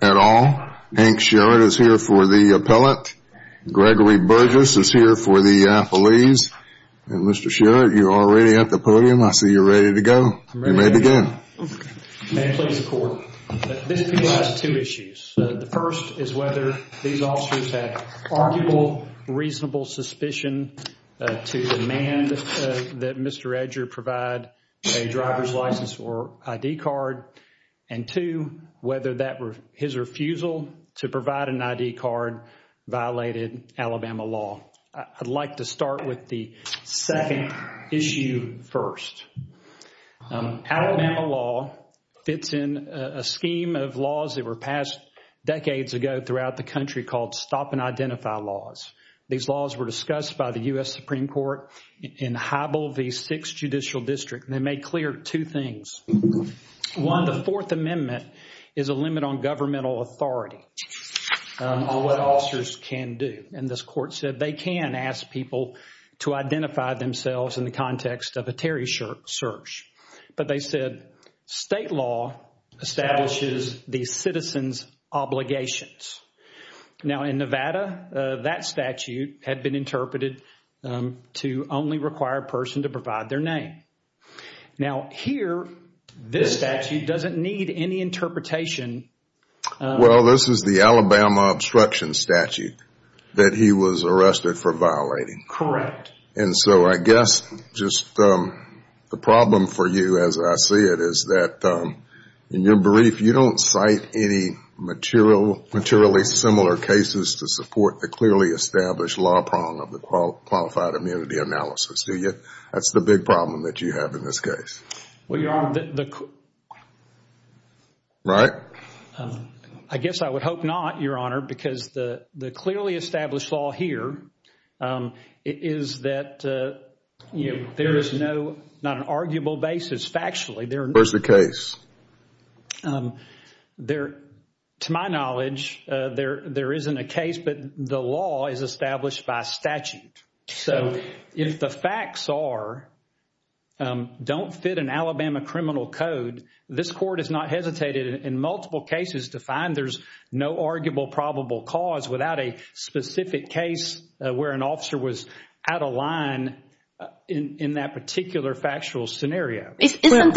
at all. Hank Sherrod is here for the appellate. Gregory Burgess is here for the appellees. And Mr. Sherrod, you're already at the podium. I see you're ready to go. You may begin. Okay. Okay. This has two issues. The first is whether these officers had arguable, reasonable suspicion to demand that Mr. Edger provide a driver's license or ID card. And two, whether his refusal to provide an ID card violated Alabama law. I'd like to start with the second issue first. Alabama law fits in a scheme of laws that were passed decades ago throughout the country called Stop and Identify laws. These laws were discussed by the U.S. Supreme Court in Hybel v. 6 Judicial District. They made clear two things. One, the Fourth Amendment is a limit on governmental authority on what officers can do. And this court said they can ask people to identify themselves in the context of a Terry search. But they said state law establishes the citizen's obligations. Now in Nevada, that statute had been interpreted to only require a person to provide their name. Now here, this statute doesn't need any interpretation. Well, this is the Alabama obstruction statute that he was arrested for violating. Correct. And so I guess just the problem for you as I see it is that in your brief, you don't cite any materially similar cases to support the clearly established law prong of the qualified immunity analysis. That's the big problem that you have in this case. Well, Your Honor, I guess I would hope not, Your Honor, because the clearly established law here is that there is not an arguable basis factually. Where's the case? To my knowledge, there isn't a case, but the law is established by statute. So if the facts are, don't fit an Alabama criminal code, this court has not hesitated in multiple cases to find there's no arguable probable cause without a specific case where an officer was out of line in that particular factual scenario. Isn't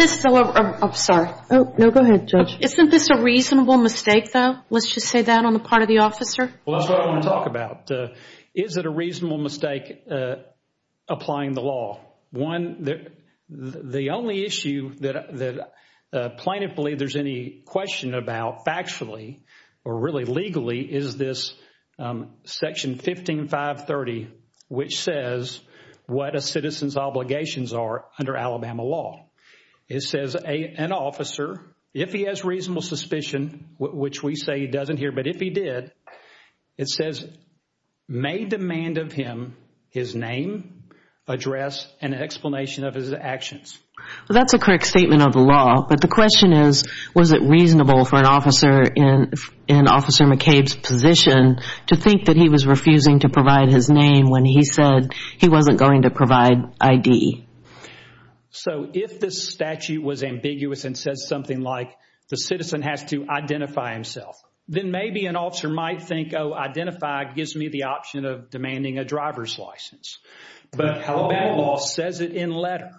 this a reasonable mistake, though? Let's just say that on the part of the officer. Is it a reasonable mistake applying the law? The only issue that plaintiff believes there's any question about factually or really legally is this section 15530, which says what a citizen's obligations are under Alabama law. It says an officer, if he has reasonable suspicion, which we say he doesn't here, but if he did, it says may demand of him his name, address, and explanation of his actions. That's a correct statement of the law, but the question is was it reasonable for an officer in Officer McCabe's position to think that he was refusing to provide his name when he said he wasn't going to provide ID? So if this statute was ambiguous and says something like the citizen has to identify himself, then maybe an officer might think, oh, identify gives me the option of demanding a driver's license. But Alabama law says it in letter.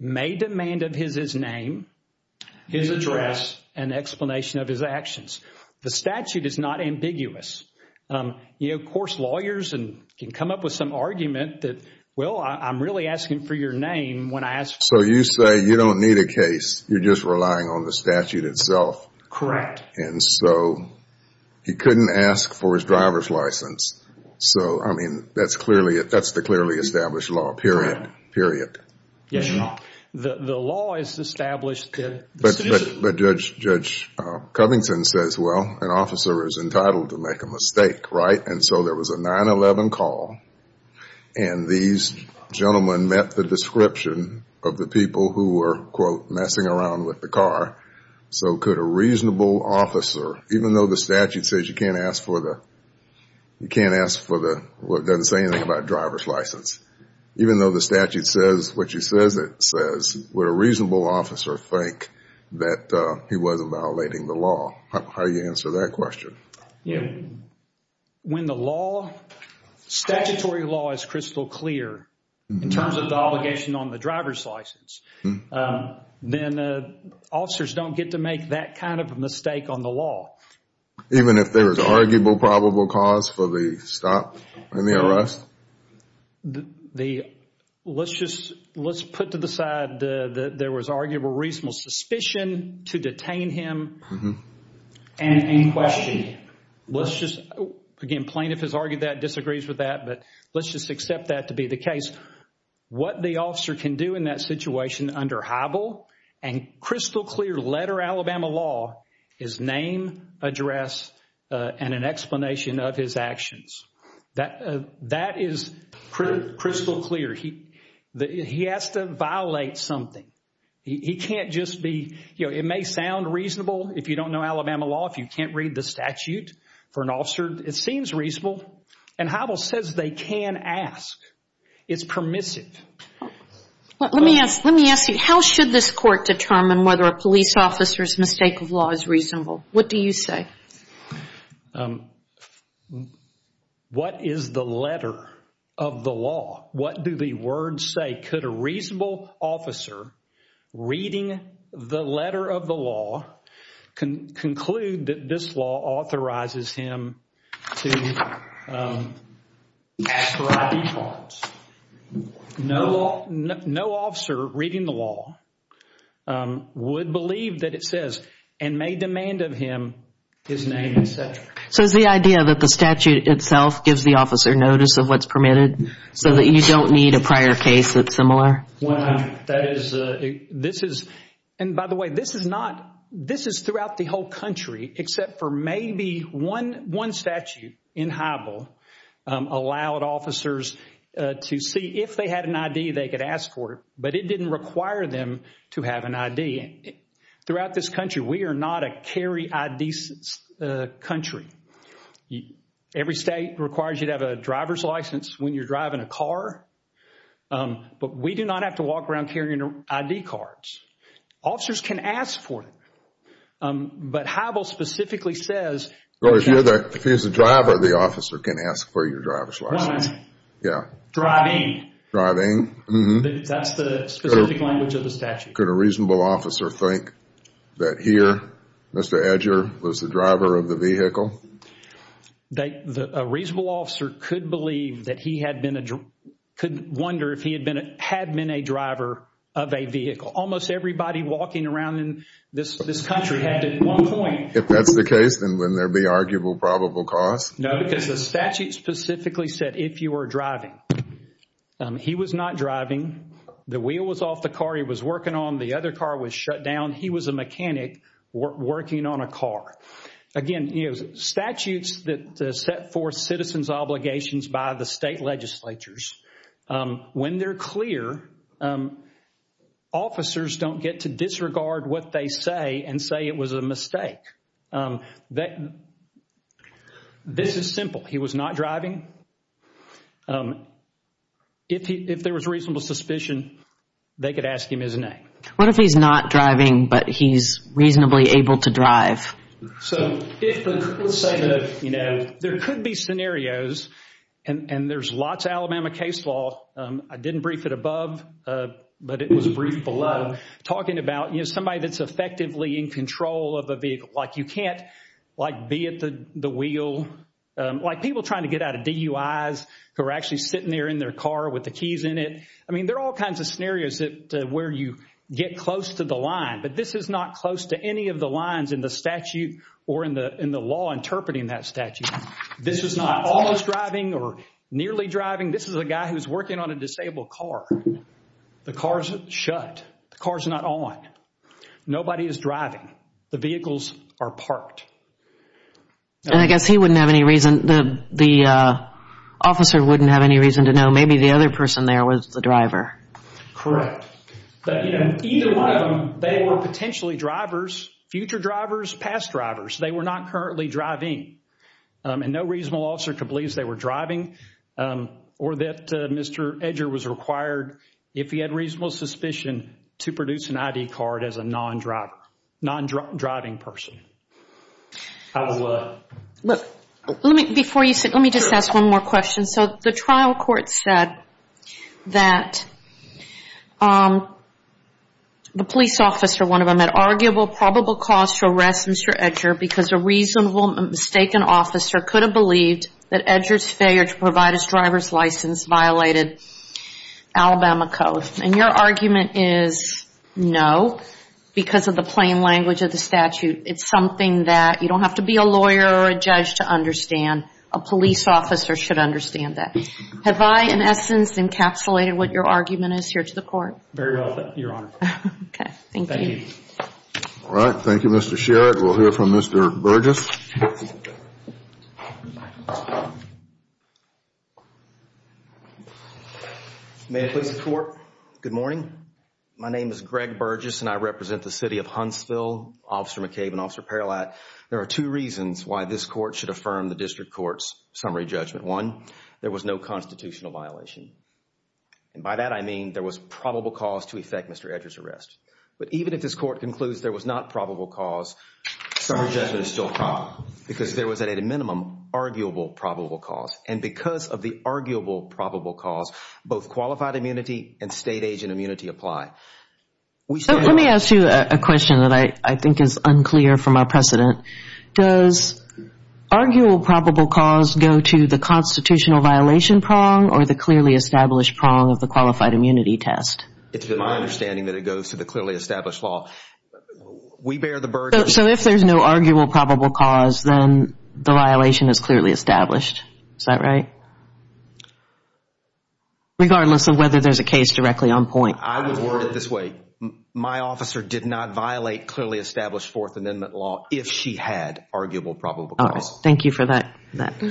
May demand of his his name, his address, and explanation of his actions. The statute is not ambiguous. Lawyers can come up with some argument that, well, I'm really asking for your name. So you say you don't need a case. You're just relying on the statute itself. Correct. He couldn't ask for his driver's license. That's the clearly established law, period. The law is established. But Judge Covington says, well, an officer is entitled to make a mistake, right? And so there was a 9-11 call, and these gentlemen met the description of the people who were, quote, messing around with the car. So could a reasonable officer, even though the statute says you can't ask for the driver's license, even though the statute says what you says it says, would a reasonable officer think that he wasn't violating the law? How do you answer that question? Statutory law is crystal clear in terms of the obligation on the driver's license. Then officers don't get to make that kind of mistake on the law. Even if there was arguable probable cause for the stop and the arrest? Let's just put to the side that there was arguable reasonable suspicion to detain him. And in question, let's just, again, plaintiff has argued that, disagrees with that, but let's just accept that to be the case. What the officer can do in that situation under Hybel and crystal clear letter Alabama law is name, address, and an explanation of his actions. That is crystal clear. He has to violate something. It may sound reasonable if you don't know Alabama law, if you can't read the statute for an officer. It seems reasonable, and Hybel says they can ask. It's permissive. Let me ask you, how should this court determine whether a police officer's mistake of law is reasonable? What do you say? What is the letter of the law? What do the words say? Could a reasonable officer, reading the letter of the law, conclude that this law authorizes him to ask for ID cards? No officer, reading the law, would believe that it says, and may demand of him, his name, etc. Is the idea that the statute itself gives the officer notice of what's permitted, so that you don't need a prior case that's similar? By the way, this is throughout the whole country, except for maybe one statute in Hybel allowed officers to see if they had an ID, they could ask for it, but it didn't require them to have an ID. Throughout this country, we are not a carry ID country. Every state requires you to have a driver's license when you're driving a car, but we do not have to walk around carrying ID cards. Officers can ask for it, but Hybel specifically says... If he's a driver, the officer can ask for your driver's license. Driving. That's the specific language of the statute. Could a reasonable officer think that here, Mr. Edger was the driver of the vehicle? A reasonable officer could wonder if he had been a driver of a vehicle. Almost everybody walking around in this country had at one point... If you were driving. He was not driving. The wheel was off the car he was working on. The other car was shut down. He was a mechanic working on a car. Again, statutes that set forth citizens' obligations by the state legislatures, when they're clear, officers don't get to disregard what they say and say it was a mistake. This is simple. He was not driving. If there was reasonable suspicion, they could ask him his name. What if he's not driving, but he's reasonably able to drive? There could be scenarios, and there's lots of Alabama case law. I didn't brief it above, but it was briefed below. Talking about somebody that's effectively in control of a vehicle. You can't be at the wheel. People trying to get out of DUIs who are actually sitting there in their car with the keys in it. There are all kinds of scenarios where you get close to the line, but this is not close to any of the lines in the statute or in the law interpreting that statute. This is not almost driving or nearly driving. This is a guy who's working on a disabled car. The car's shut. The car's not on. Nobody is driving. The vehicles are parked. I guess he wouldn't have any reason, the officer wouldn't have any reason to know. Maybe the other person there was the driver. Correct. Future drivers, past drivers. They were not currently driving. No reasonable officer could believe they were driving or that Mr. Edger was required, if he had reasonable suspicion, to produce an ID card as a non-driving person. How does what? Let me just ask one more question. The trial court said that the police officer, one of them, had arguable probable cause to arrest Mr. Edger because a reasonable mistaken officer could have believed that Edger's failure to provide his driver's license violated Alabama code. And your argument is no because of the plain language of the statute. It's something that you don't have to be a lawyer or a judge to understand. A police officer should understand that. Have I, in essence, encapsulated what your argument is here to the court? Very well, Your Honor. Thank you, Mr. Sherrod. We'll hear from Mr. Burgess. May it please the court. Good morning. My name is Greg Burgess and I represent the city of Huntsville. Officer McCabe and Officer Perilat, there are two reasons why this court should affirm the district court's summary judgment. One, there was no constitutional violation. And by that I mean there was probable cause to effect Mr. Edger's arrest. But even if this court concludes there was not probable cause, summary judgment is still probable because there was, at a minimum, arguable probable cause. And because of the arguable probable cause, both qualified immunity and state agent immunity apply. Let me ask you a question that I think is unclear from our precedent. Does arguable probable cause go to the constitutional violation prong or the clearly established prong of the qualified immunity test? It's my understanding that it goes to the clearly established prong. We bear the burden. So if there's no arguable probable cause, then the violation is clearly established. Is that right? Regardless of whether there's a case directly on point. I would word it this way. My officer did not violate clearly established Fourth Amendment law if she had arguable probable cause. Thank you for that.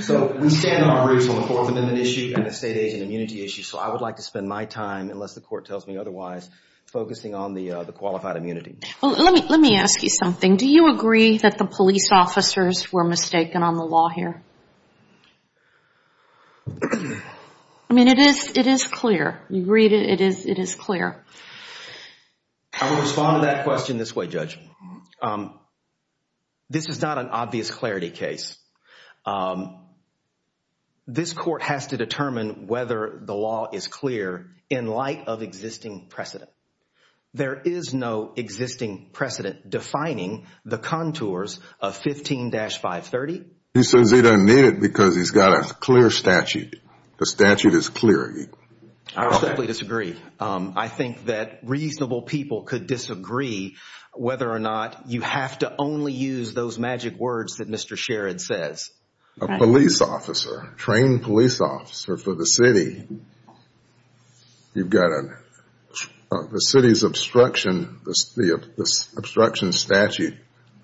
So I would like to spend my time, unless the court tells me otherwise, focusing on the qualified immunity. Let me ask you something. Do you agree that the police officers were mistaken on the law here? I mean, it is clear. You read it. It is clear. I would respond to that question this way, Judge. This is not an obvious clarity case. This court has to determine whether the law is clear in light of existing precedent. There is no existing precedent defining the contours of 15-530. He says he doesn't need it because he's got a clear statute. The statute is clear. I completely disagree. You have to only use those magic words that Mr. Sherrod says. A police officer, a trained police officer for the city, you've got the city's obstruction statute.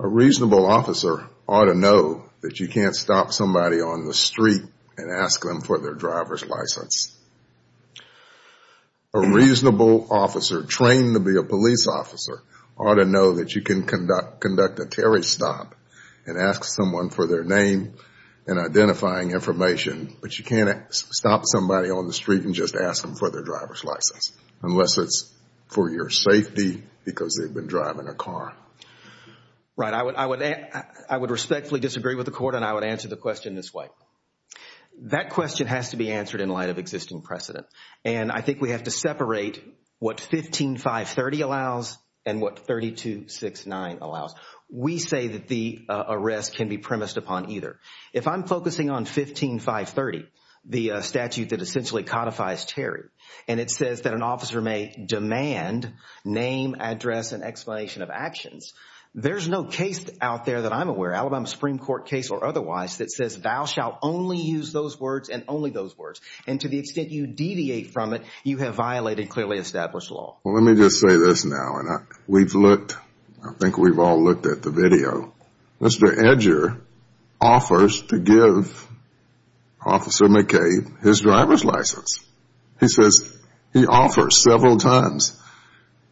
A reasonable officer ought to know that you can't stop somebody on the street and ask them for their driver's license. A reasonable officer, trained to be a police officer, ought to know that you can conduct a Terry stop and ask someone for their name and identifying information. But you can't stop somebody on the street and just ask them for their driver's license, unless it's for your safety because they've been driving a car. Right. I would respectfully disagree with the court, and I would answer the question this way. That question has to be answered in light of existing precedent, and I think we have to separate what 15-530 allows and what 32-69 allows. We say that the arrest can be premised upon either. If I'm focusing on 15-530, the statute that essentially codifies Terry, and it says that an officer may demand name, address, and explanation of actions, there's no case out there that I'm aware of, Alabama Supreme Court case or otherwise, that says thou shall only use those words and only those words. And to the extent you deviate from it, you have violated clearly established law. Well, let me just say this now, and we've looked, I think we've all looked at the video. Mr. Edger offers to give Officer McCabe his driver's license. He says, he offers several times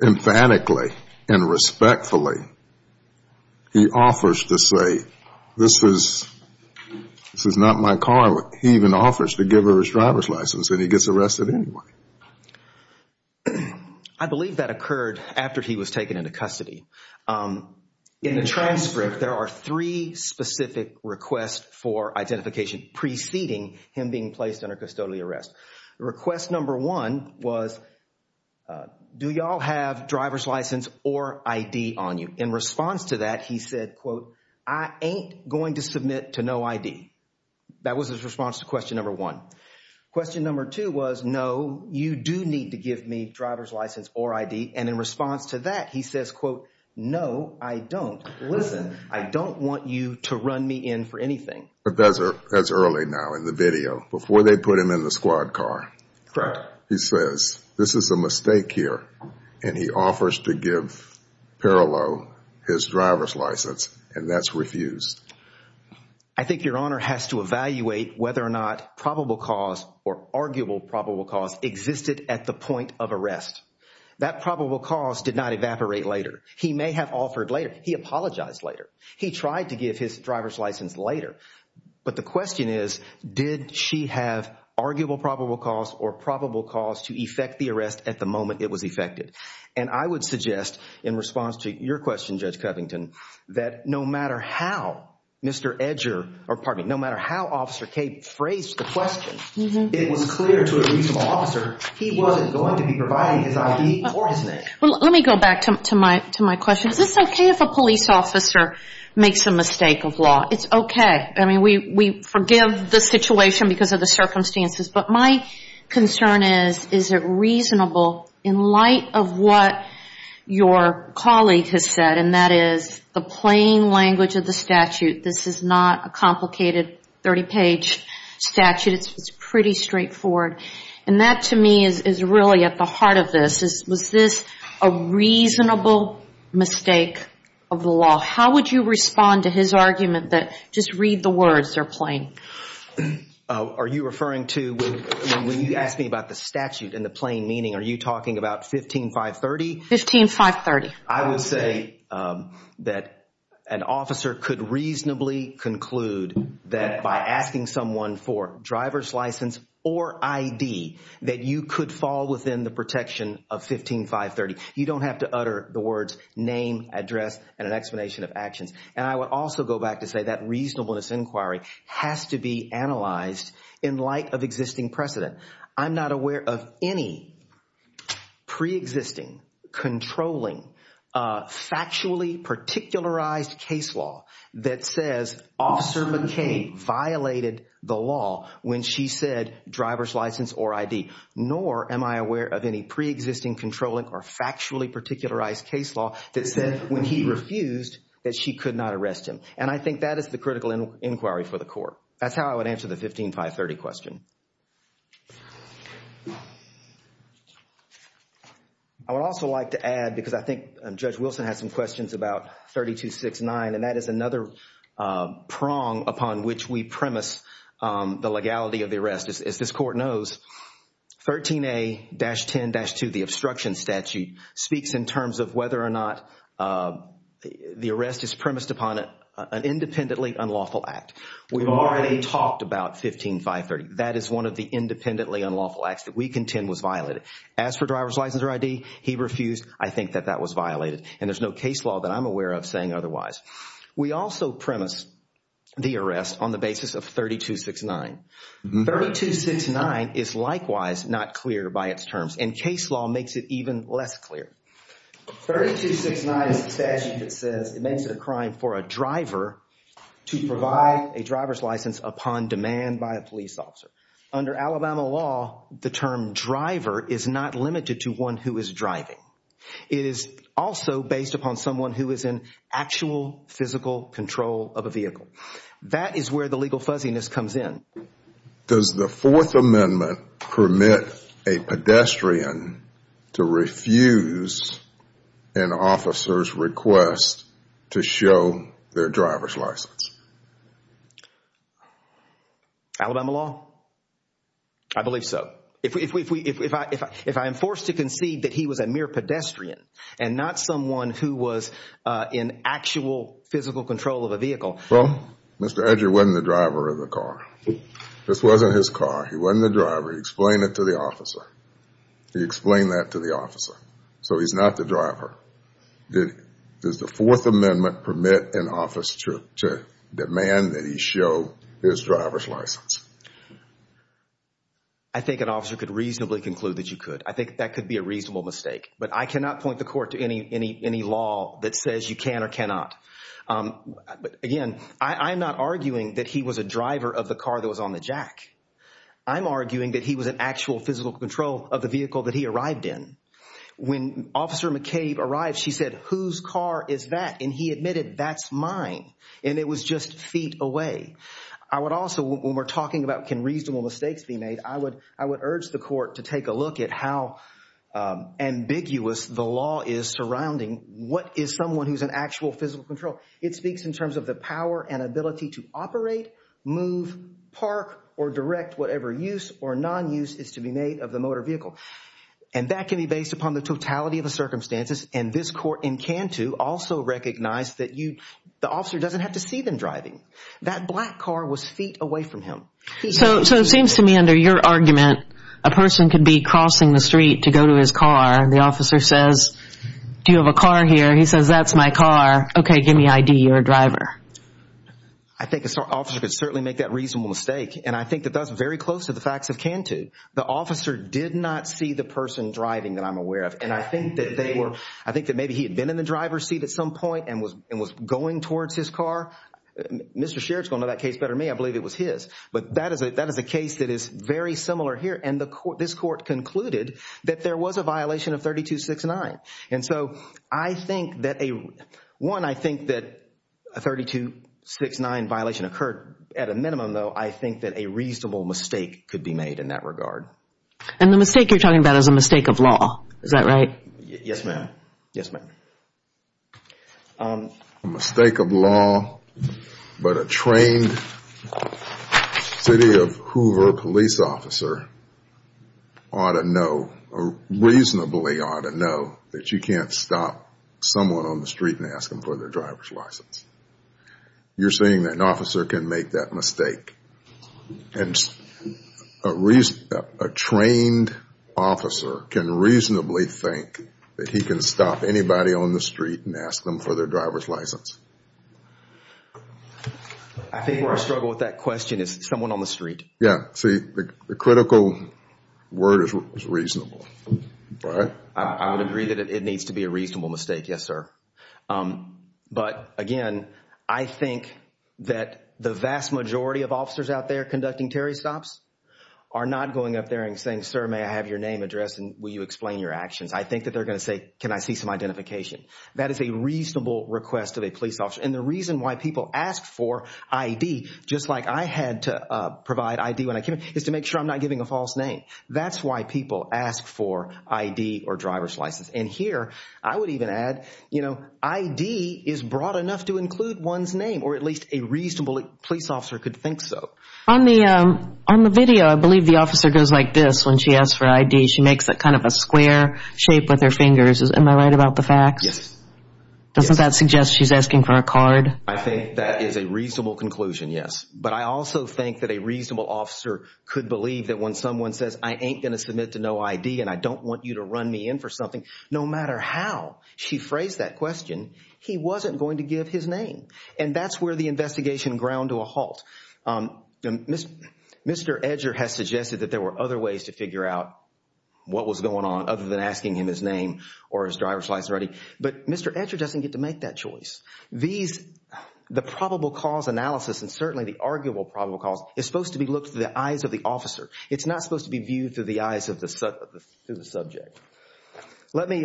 emphatically and respectfully. He offers to say this is not my car. He even offers to give her his driver's license, and he gets arrested anyway. I believe that occurred after he was taken into custody. In the transcript, there are three specific requests for identification preceding him being placed under custodial arrest. Request number one was, do you all have driver's license or ID on you? In response to that, he said, quote, I ain't going to submit to no ID. That was his response to question number one. Question number two was, no, you do need to give me driver's license or ID. And in response to that, he says, quote, no, I don't. Listen, I don't want you to run me in for anything. But that's early now in the video, before they put him in the squad car. He says, this is a mistake here. And he offers to give Perlow his driver's license, and that's refused. I think Your Honor has to evaluate whether or not probable cause or arguable probable cause existed at the point of arrest. That probable cause did not evaporate later. He may have offered later. He apologized later. He tried to give his driver's license later. But the question is, did she have arguable probable cause or probable cause to effect the arrest at the moment it was effected? And I would suggest in response to your question, Judge Covington, that no matter how Mr. Covington is arguing his ID or his name. Well, let me go back to my question. Is this okay if a police officer makes a mistake of law? It's okay. I mean, we forgive the situation because of the circumstances. But my concern is, is it reasonable in light of what your colleague has said, and that is the plain language of the statute. This is not a complicated 30-page statute. It's pretty straightforward. And that to me is really at the heart of this. Was this a reasonable mistake of the law? How would you respond to his argument that just read the words, they're plain? Are you referring to when you asked me about the statute and the plain meaning, are you talking about 15-530? 15-530. I would say that an officer could reasonably conclude that by asking someone for driver's license or ID, that you could fall within the protection of 15-530. You don't have to utter the words name, address, and an explanation of actions. And I would also go back to say that reasonableness inquiry has to be analyzed in light of existing precedent. I'm not aware of any preexisting, controlling, factually particularized case law that says Officer McCain violated the law when she said driver's license or ID. Nor am I aware of any preexisting, controlling, or factually particularized case law that said when he refused that she could not arrest him. And I think that is the critical inquiry for the court. That's how I would answer the 15-530 question. I would also like to add, because I think Judge Wilson had some questions about 32-6-9, and that is another prong upon which we premise the legality of the arrest. As this court knows, 13A-10-2, the obstruction statute, speaks in terms of whether or not the arrest is premised upon an independently unlawful act. We've already talked about 15-530. That is one of the independently unlawful acts that we contend was violated. As for driver's license or ID, he refused. I think that that was violated. And there's no case law that I'm aware of saying otherwise. We also premise the arrest on the basis of 32-6-9. 32-6-9 is likewise not clear by its terms. And case law makes it even less clear. 32-6-9 is a statute that says it makes it a crime for a driver to provide a driver's license upon demand by a police officer. Under Alabama law, the term driver is not limited to one who is driving. It is also based upon someone who is in actual physical control of a vehicle. That is where the legal fuzziness comes in. Does the Fourth Amendment permit a pedestrian to refuse an officer's request to show their driver's license? Alabama law? I believe so. If I am forced to concede that he was a mere pedestrian and not someone who was in actual physical control of a vehicle... Well, Mr. Edgar wasn't the driver of the car. This wasn't his car. He wasn't the driver. He explained it to the officer. He explained that to the officer. So he's not the driver. Does the Fourth Amendment permit an officer to demand that he show his driver's license? I think an officer could reasonably conclude that you could. I think that could be a reasonable mistake. But I cannot point the court to any law that says you can or cannot. Again, I'm not arguing that he was a driver of the car that was on the jack. I'm arguing that he was in actual physical control of the vehicle that he arrived in. When Officer McCabe arrived, she said, whose car is that? And he admitted, that's mine. And it was just feet away. I would urge the court to take a look at how ambiguous the law is surrounding what is someone who is in actual physical control. It speaks in terms of the power and ability to operate, move, park, or direct whatever use or non-use is to be made of the motor vehicle. And that can be based upon the totality of the circumstances. And this court in Cantu also recognized that the officer doesn't have to see them driving. That black car was feet away from him. So it seems to me under your argument, a person could be crossing the street to go to his car. The officer says, do you have a car here? He says, that's my car. Okay, give me ID. You're a driver. I think an officer could certainly make that reasonable mistake. And I think that that's very close to the facts of Cantu. The officer did not see the person driving that I'm aware of. And I think that maybe he had been in the driver's seat at some point and was going towards his car. Mr. Sherrod's going to know that case better than me. I believe it was his. But that is a case that is very similar here. And this court concluded that there was a violation of 32-6-9. One, I think that a 32-6-9 violation occurred at a minimum, though. I think that a reasonable mistake could be made in that regard. And the mistake you're talking about is a mistake of law. Is that right? Yes, ma'am. A mistake of law, but a trained city of Hoover police officer ought to know, reasonably ought to know, that you can't stop someone on the street and ask them for their driver's license. You're saying that an officer can make that mistake. And a trained officer can reasonably think that he can stop anybody on the street and ask them for their driver's license. I think where I struggle with that question is someone on the street. Yeah. See, the critical word is reasonable, right? I would agree that it needs to be a reasonable mistake, yes, sir. But again, I think that the vast majority of officers out there conducting Terry stops are not going up there and saying, sir, may I have your name addressed and will you explain your actions? I think that they're going to say, can I see some identification? That is a reasonable request of a police officer. And the reason why people ask for ID, just like I had to provide ID when I came in, is to make sure I'm not giving a false name. You know, ID is broad enough to include one's name, or at least a reasonable police officer could think so. On the video, I believe the officer goes like this when she asks for ID. She makes kind of a square shape with her fingers. Am I right about the facts? Doesn't that suggest she's asking for a card? I think that is a reasonable conclusion, yes. But I also think that a reasonable officer could believe that when someone says, I ain't going to submit to no ID and I don't want you to run me in for something. No matter how she phrased that question, he wasn't going to give his name. And that's where the investigation ground to a halt. Mr. Edger has suggested that there were other ways to figure out what was going on other than asking him his name or his driver's license. But Mr. Edger doesn't get to make that choice. The probable cause analysis, and certainly the arguable probable cause, is supposed to be looked through the eyes of the officer. It's not supposed to be viewed through the eyes of the subject. Let me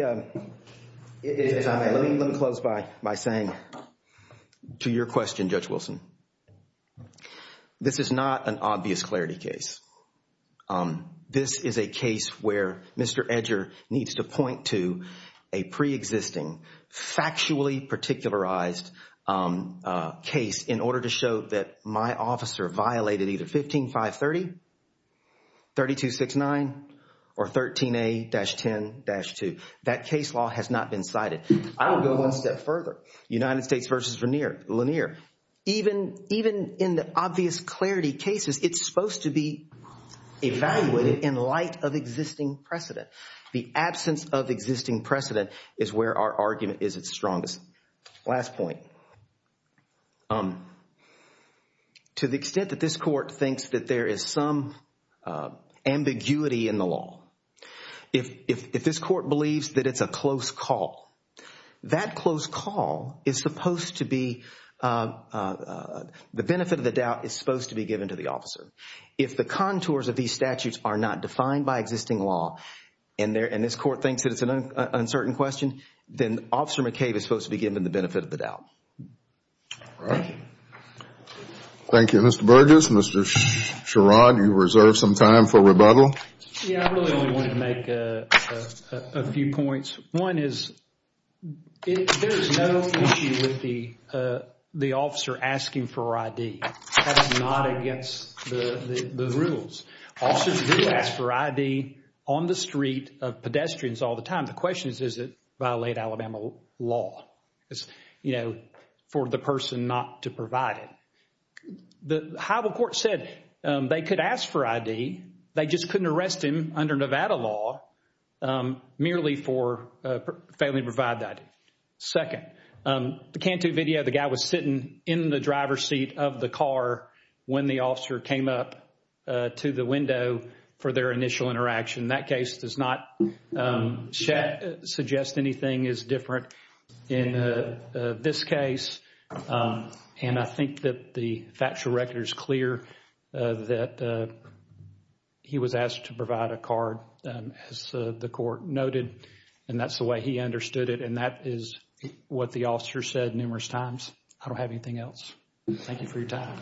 close by saying to your question, Judge Wilson, this is not an obvious clarity case. This is a case where Mr. Edger needs to point to a preexisting, factually particularized case in order to show that my officer violated either 15530, 3269, or 13A-10-2. That case law has not been cited. I will go one step further. United States v. Lanier. Even in the obvious clarity cases, it's supposed to be evaluated in light of existing precedent. The absence of existing precedent is where our argument is its strongest. Last point. To the extent that this court thinks that there is some ambiguity in the law, if this court believes that it's a close call, the benefit of the doubt is supposed to be given to the officer. If the contours of these statutes are not defined by existing law, and this court thinks that it's an uncertain question, then Officer McCabe is supposed to be given the benefit of the doubt. Thank you, Mr. Burgess. Mr. Sherrod, you reserve some time for rebuttal. I really only want to make a few points. One is, there is no issue with the officer asking for ID. That's not against the rules. Officers do ask for ID on the street of pedestrians all the time. The question is, does it violate Alabama law for the person not to provide it? The high court said they could ask for ID, they just couldn't arrest him under Nevada law merely for failing to provide the ID. Second, the can-do video, the guy was sitting in the driver's seat of the car when the officer came up to the window for their initial interaction. That case does not suggest anything is different in this case. And I think that the factual record is clear that he was asked to provide a card, as the court noted, and that's the way he understood it. And that is what the officer said numerous times. I don't have anything else. Thank you for your time.